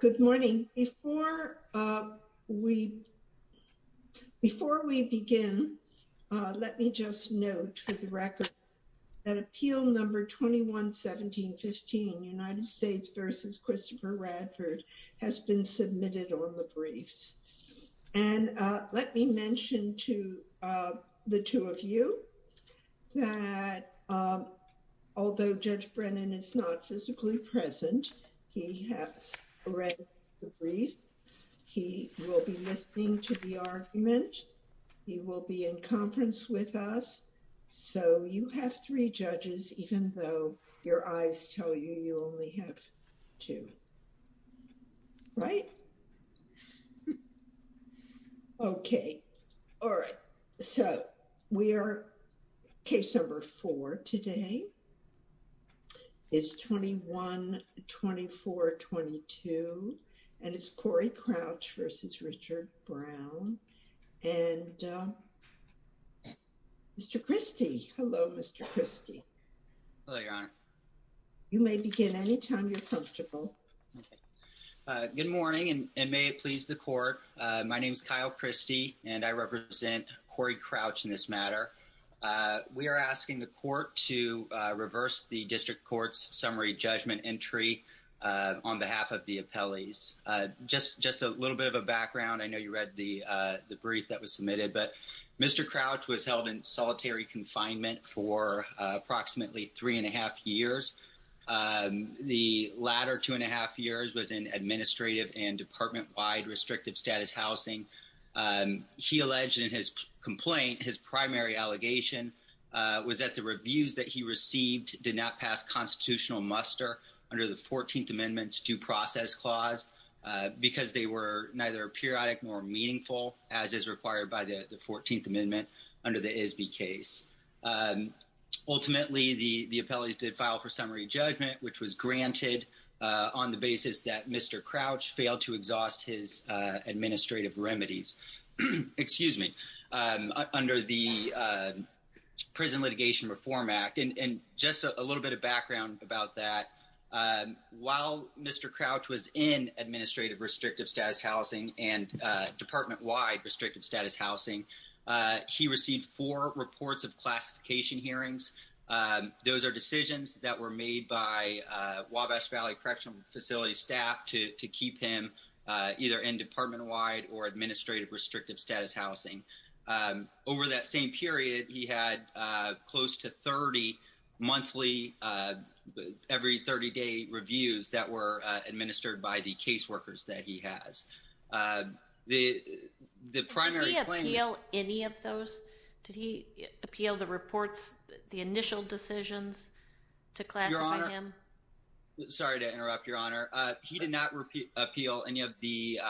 Good morning. Before we begin, let me just note for the record that Appeal No. 21-17-15 United States v. Christopher Radford has been submitted on the briefs. And let me mention to the two of you that although Judge Brennan is not physically present, he has read the brief. He will be listening to the argument. He will be in conference with us. So you have three judges, even though your eyes tell you you only have two. Right. Okay. All right. So we are case number four today is 21-24-22. And it's Corey Crouch v. Richard Brown. And Mr. Christy. Hello, Mr. Christy. Hello, Your Honor. You may begin any time you're comfortable. Good morning, and may it please the court. My name is Kyle Christy, and I represent Corey Crouch in this matter. We are asking the court to reverse the district court's summary judgment entry on behalf of the appellees. Just a little bit of a background. I know you read the brief that was submitted. Corey Crouch was held in solitary confinement for approximately three and a half years. The latter two and a half years was in administrative and department-wide restrictive status housing. He alleged in his complaint, his primary allegation was that the reviews that he received did not pass constitutional muster under the 14th Amendment's due process clause, because they were neither periodic nor meaningful, as is required by the 14th Amendment under the ISBI case. Ultimately, the appellees did file for summary judgment, which was granted on the basis that Mr. Crouch failed to exhaust his administrative remedies, excuse me, under the Prison Litigation Reform Act. And just a little bit of background about that. While Mr. Crouch was administrative restrictive status housing and department-wide restrictive status housing, he received four reports of classification hearings. Those are decisions that were made by Wabash Valley Correctional Facility staff to keep him either in department-wide or administrative restrictive status housing. Over that same period, he had close to 30 monthly, every 30-day reviews that were administered by the caseworkers that he has. The primary claim— Did he appeal any of those? Did he appeal the reports, the initial decisions to classify him? Your Honor, sorry to interrupt, Your Honor. He did not appeal any of the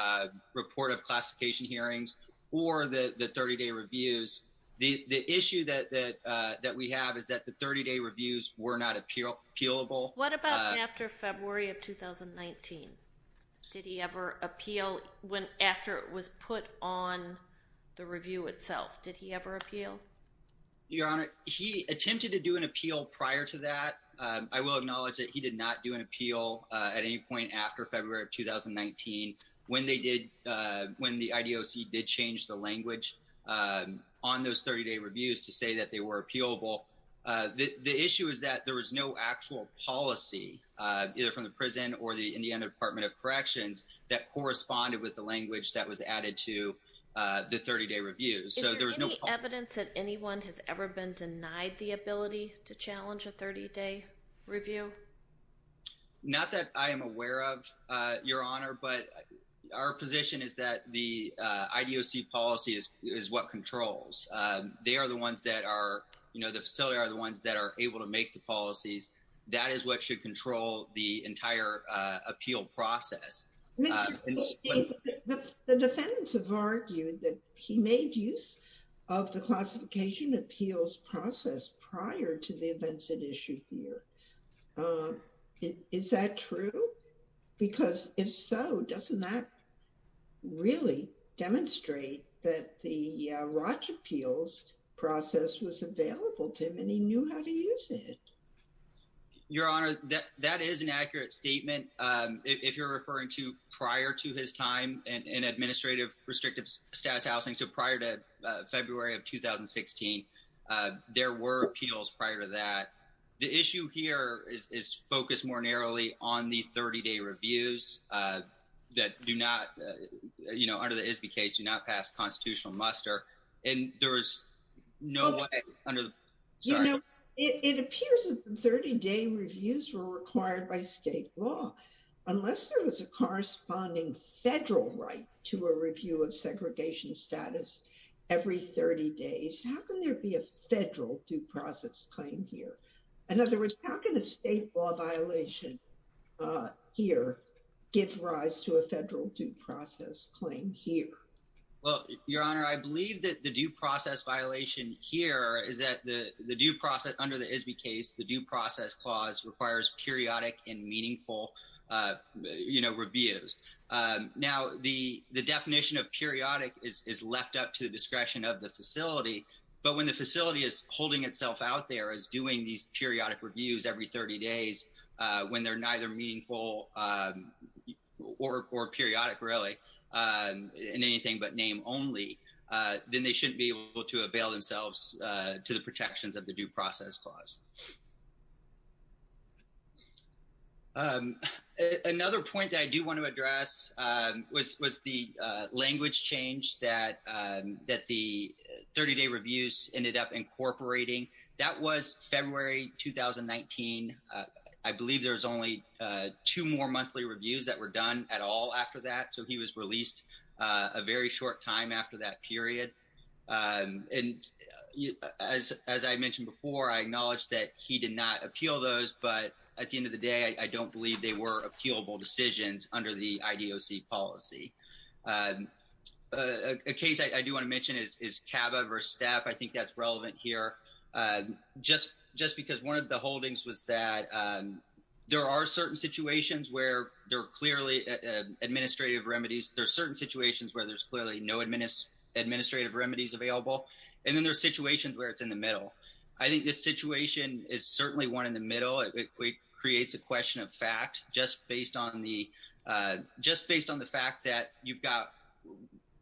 report of classification hearings or the 30-day reviews. The issue that we have is that the 30-day reviews were not appealable. What about after February of 2019? Did he ever appeal after it was put on the review itself? Did he ever appeal? Your Honor, he attempted to do an appeal prior to that. I will acknowledge that he did not do an appeal at any point after February of 2019 when the IDOC did change the language on those 30-day either from the prison or the Indiana Department of Corrections that corresponded with the language that was added to the 30-day reviews. Is there any evidence that anyone has ever been denied the ability to challenge a 30-day review? Not that I am aware of, Your Honor, but our position is that the IDOC policy is what controls. They are the ones that are—the facility are the ones that are able to make the policies. That is what should control the entire appeal process. The defendants have argued that he made use of the classification appeals process prior to the events at issue here. Is that true? Because if so, doesn't that really demonstrate that the Your Honor, that is an accurate statement. If you're referring to prior to his time in administrative restrictive status housing, so prior to February of 2016, there were appeals prior to that. The issue here is focused more narrowly on the 30-day reviews that do not, you know, under the ISBI case, do not pass constitutional muster, and there is no way— You know, it appears that the 30-day reviews were required by state law. Unless there was a corresponding federal right to a review of segregation status every 30 days, how can there be a federal due process claim here? In other words, how can a state law violation here give rise to a federal due process claim here? Well, Your Honor, I believe that the due process violation here is that the due process—under the ISBI case, the due process clause requires periodic and meaningful, you know, reviews. Now, the definition of periodic is left up to the discretion of the facility, but when the facility is holding itself out there as doing these periodic reviews every 30 days when they're neither meaningful or periodic, really, in anything but name only, then they shouldn't be able to avail themselves to the protections of the due process clause. Another point that I do want to address was the language change that the 30-day reviews ended up incorporating. That was February 2019. I believe there was only two more monthly reviews that were done at all after that, so he was released a very short time after that period. And as I mentioned before, I acknowledge that he did not appeal those, but at the end of the day, I don't believe they were appealable decisions under the IDOC policy. A case I do want to mention is CABA v. Staff. I think that's relevant here, just because one of the holdings was that there are certain situations where there are clearly administrative remedies. There are certain situations where there's clearly no administrative remedies available, and then there are situations where it's in the middle. I think this situation is certainly one in the middle. It creates a question of fact just based on the fact that you've got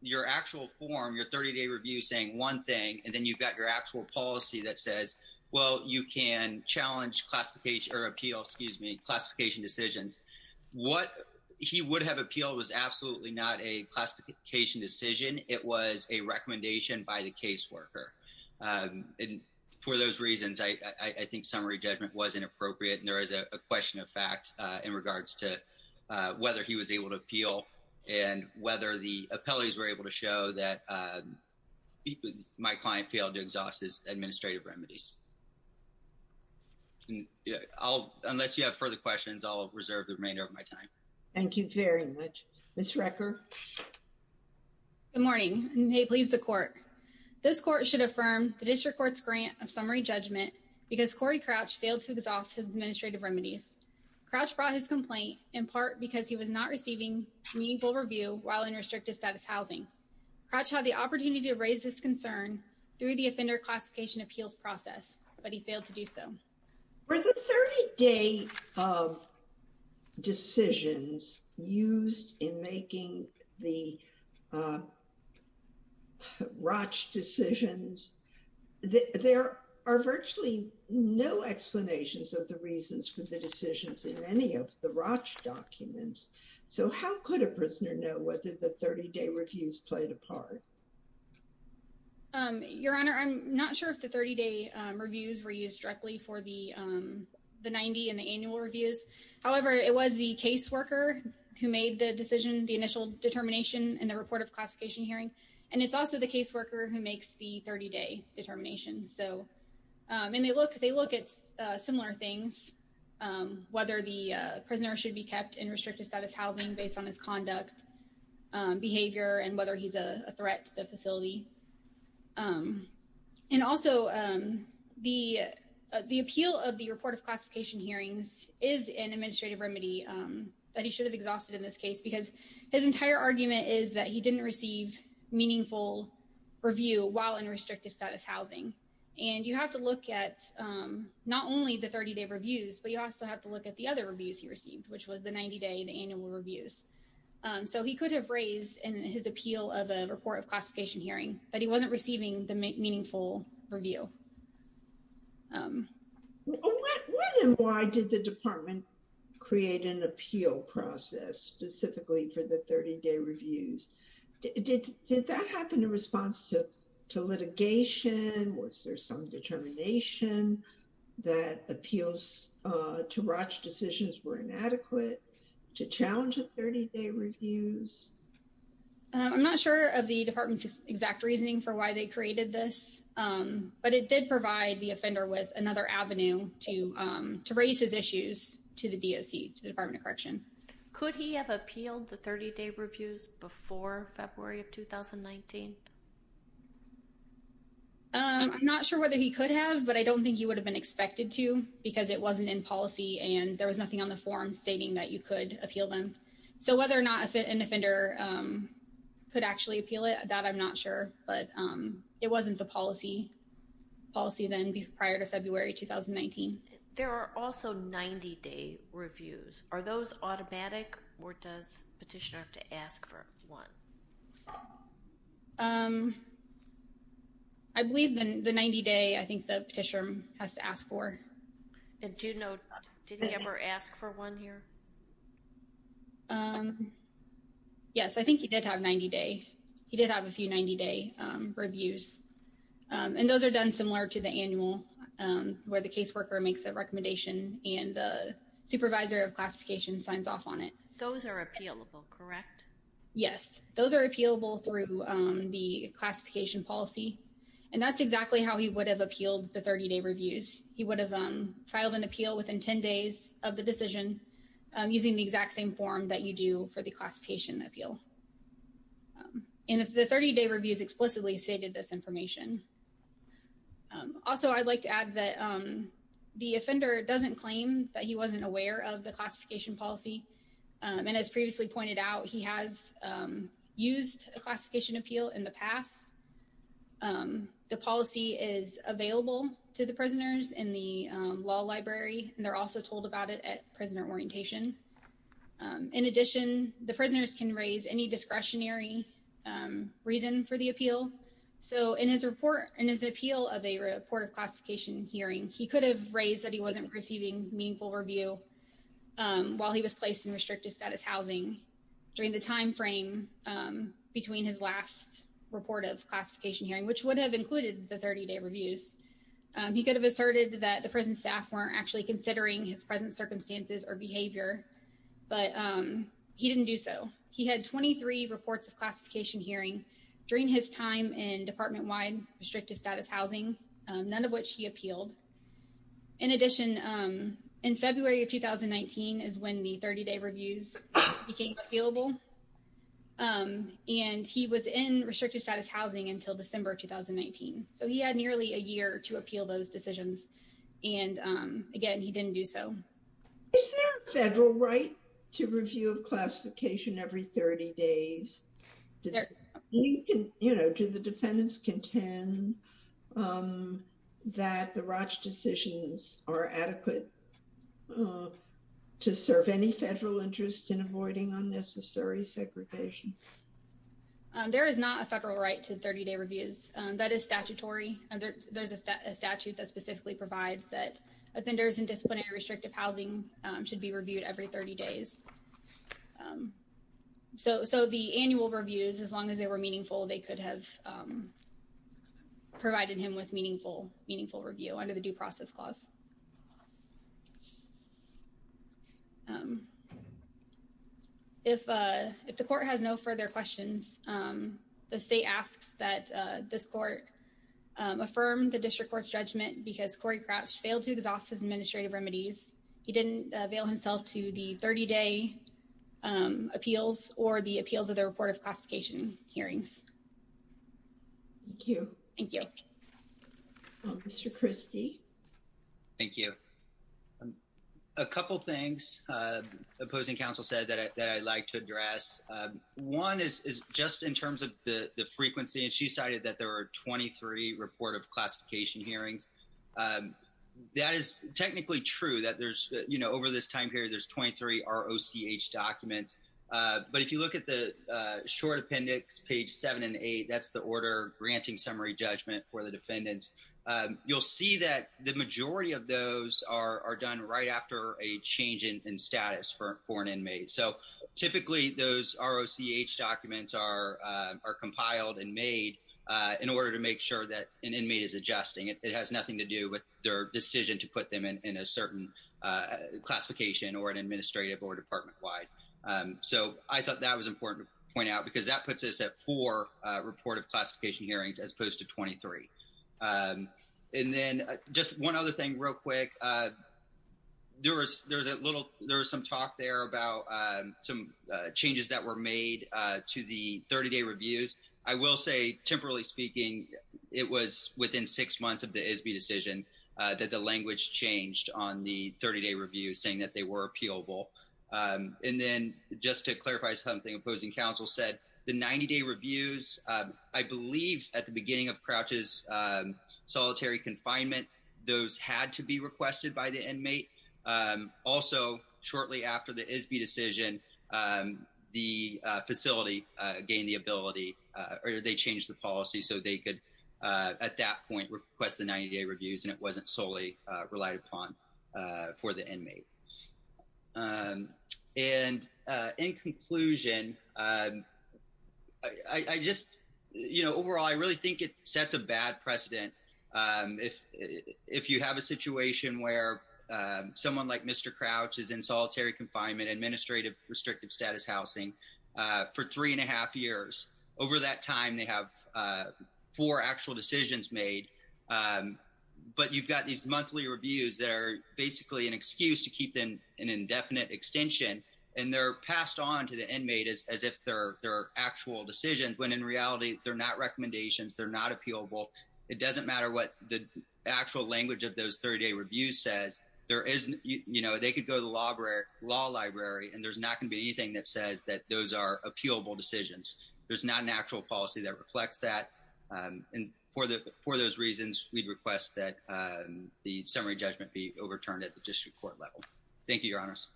your actual form, your 30-day review saying one thing, and then you've got your actual policy that says, well, you can challenge classification or appeal, excuse me, classification decisions. What he would have appealed was absolutely not a classification decision. It was a recommendation by the caseworker. And for those reasons, I think summary judgment was inappropriate, and there is a question of fact in regards to whether he was able to appeal and whether the caseworker was able to appeal. So, I think that's relevant here, just because one of the holdings was that there are certain situations where there are clearly administrative remedies. Unless you have further questions, I'll reserve the remainder of my time. Thank you very much. Ms. Recker? Good morning, and may it please the Court. This Court should affirm the District Court's grant of summary judgment because Corey Crouch failed to exhaust his administrative remedies. Crouch brought his complaint in part because he was not receiving meaningful review while in restricted status housing. Crouch had the opportunity to raise this concern through the offender classification appeals process, but he failed to do so. For the 30-day decisions used in making the any of the ROCH documents, so how could a prisoner know whether the 30-day reviews played a part? Your Honor, I'm not sure if the 30-day reviews were used directly for the 90 and the annual reviews. However, it was the caseworker who made the decision, the initial determination, in the report of classification hearing, and it's also the caseworker who makes the 30-day determination. And they look at similar things, whether the prisoner should be kept in restricted status housing based on his conduct, behavior, and whether he's a threat to the facility. And also, the appeal of the report of classification hearings is an administrative remedy that he should have exhausted in this case because his entire argument is that he didn't receive meaningful review while in restricted status housing. And you have to look at not only the 30-day reviews, but you also have to look at the other reviews he received, which was the 90-day and annual reviews. So he could have raised in his appeal of a report of classification hearing that he wasn't receiving the meaningful review. Why did the department create an appeal process specifically for the 30-day reviews? Did that happen in response to litigation? Was there some determination that appeals to ROCH decisions were inadequate to challenge the 30-day reviews? I'm not sure of the department's exact reasoning for why they created this, but it did provide the offender with another avenue to raise his issues to the DOC, to the Department of Correction. Could he have appealed the 30-day reviews before February of 2019? I'm not sure whether he could have, but I don't think he would have been expected to because it wasn't in policy, and there was nothing on the form stating that you could appeal them. So whether or not an offender could actually appeal it, that I'm not sure. But it wasn't the policy then prior to February 2019. There are also 90-day reviews. Are those automatic, or does petitioner have to ask for one? I believe the 90-day, I think the petitioner has to ask for. And do you know, did he ever ask for one here? Yes, I think he did have 90-day. He did have a few 90-day reviews, and those are done similar to the annual where the caseworker makes a recommendation and the supervisor of classification signs off on it. Those are appealable, correct? Yes, those are appealable through the classification policy, and that's exactly how he would have appealed the 30-day reviews. He would have filed an appeal within 10 days of the decision using the exact same form that you do for the classification appeal. And the 30-day reviews explicitly stated this information. Also, I'd like to add that the offender doesn't claim that he wasn't aware of the classification policy. And as previously pointed out, he has used a classification appeal in the past. The policy is available to the prisoners in the law library, and they're also told about it at prisoner orientation. In addition, the prisoners can raise any discretionary reason for the appeal. So in his appeal of a report of classification hearing, he could have raised that he wasn't receiving meaningful review while he was placed in restrictive status housing during the time frame between his last report of classification hearing, which would have included the 30-day reviews. He could have asserted that the prison staff weren't actually considering his present circumstances or behavior, but he didn't do so. He had 23 reports of classification hearing during his time in department-wide restrictive status housing, none of which he appealed. In addition, in February of 2019 is when the 30-day reviews became scalable. And he was in restrictive status housing until December 2019. So he had nearly a year to appeal those decisions. And again, he didn't do so. Is there a federal right to review of classification every 30 days? Do the defendants contend that the Roche decisions are adequate to serve any federal interest in avoiding unnecessary segregation? There is not a federal right to 30-day reviews. That is statutory. There's a statute that provides that offenders in disciplinary restrictive housing should be reviewed every 30 days. So the annual reviews, as long as they were meaningful, they could have provided him with meaningful review under the due process clause. If the court has no further questions, the state asks that this court affirm the district court's judgment because Corey Crouch failed to exhaust his administrative remedies. He didn't avail himself to the 30-day appeals or the appeals of the report of classification hearings. Thank you. Thank you. Mr. Christie. Thank you. A couple of things opposing counsel said that I'd like to address. One is just in terms of the frequency, she cited that there were 23 report of classification hearings. That is technically true that over this time period, there's 23 ROCH documents. But if you look at the short appendix, page seven and eight, that's the order granting summary judgment for the defendants. You'll see that the majority of those are done right after a change in status for an inmate. So in order to make sure that an inmate is adjusting, it has nothing to do with their decision to put them in a certain classification or an administrative or department-wide. So I thought that was important to point out because that puts us at four report of classification hearings as opposed to 23. And then just one other thing real quick. There was some talk there about some changes that were made to the 30-day reviews. I will say, temporarily speaking, it was within six months of the ISB decision that the language changed on the 30-day review saying that they were appealable. And then just to clarify something opposing counsel said, the 90-day reviews, I believe at the beginning of Crouch's solitary confinement, those had to requested by the inmate. Also, shortly after the ISB decision, the facility gained the ability or they changed the policy so they could, at that point, request the 90-day reviews and it wasn't solely relied upon for the inmate. And in conclusion, I just, you know, overall, I really think it sets a bad precedent. If you have a situation where someone like Mr. Crouch is in solitary confinement, administrative restrictive status housing, for three and a half years. Over that time, they have four actual decisions made. But you've got these monthly reviews that are basically an excuse to keep an indefinite extension. And they're passed on to the inmate as if they're actual decisions, when in reality, they're not recommendations, they're not appealable. It doesn't matter what the actual language of those 30-day reviews says, there is, you know, they could go to the law library and there's not going to be anything that says that those are appealable decisions. There's not an actual policy that reflects that. And for those reasons, we'd request that the summary judgment be overturned at the district court level. Thank you, Your Honors.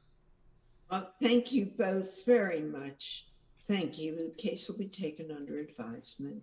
Thank you both very much. Thank you. The case will be taken under advisement.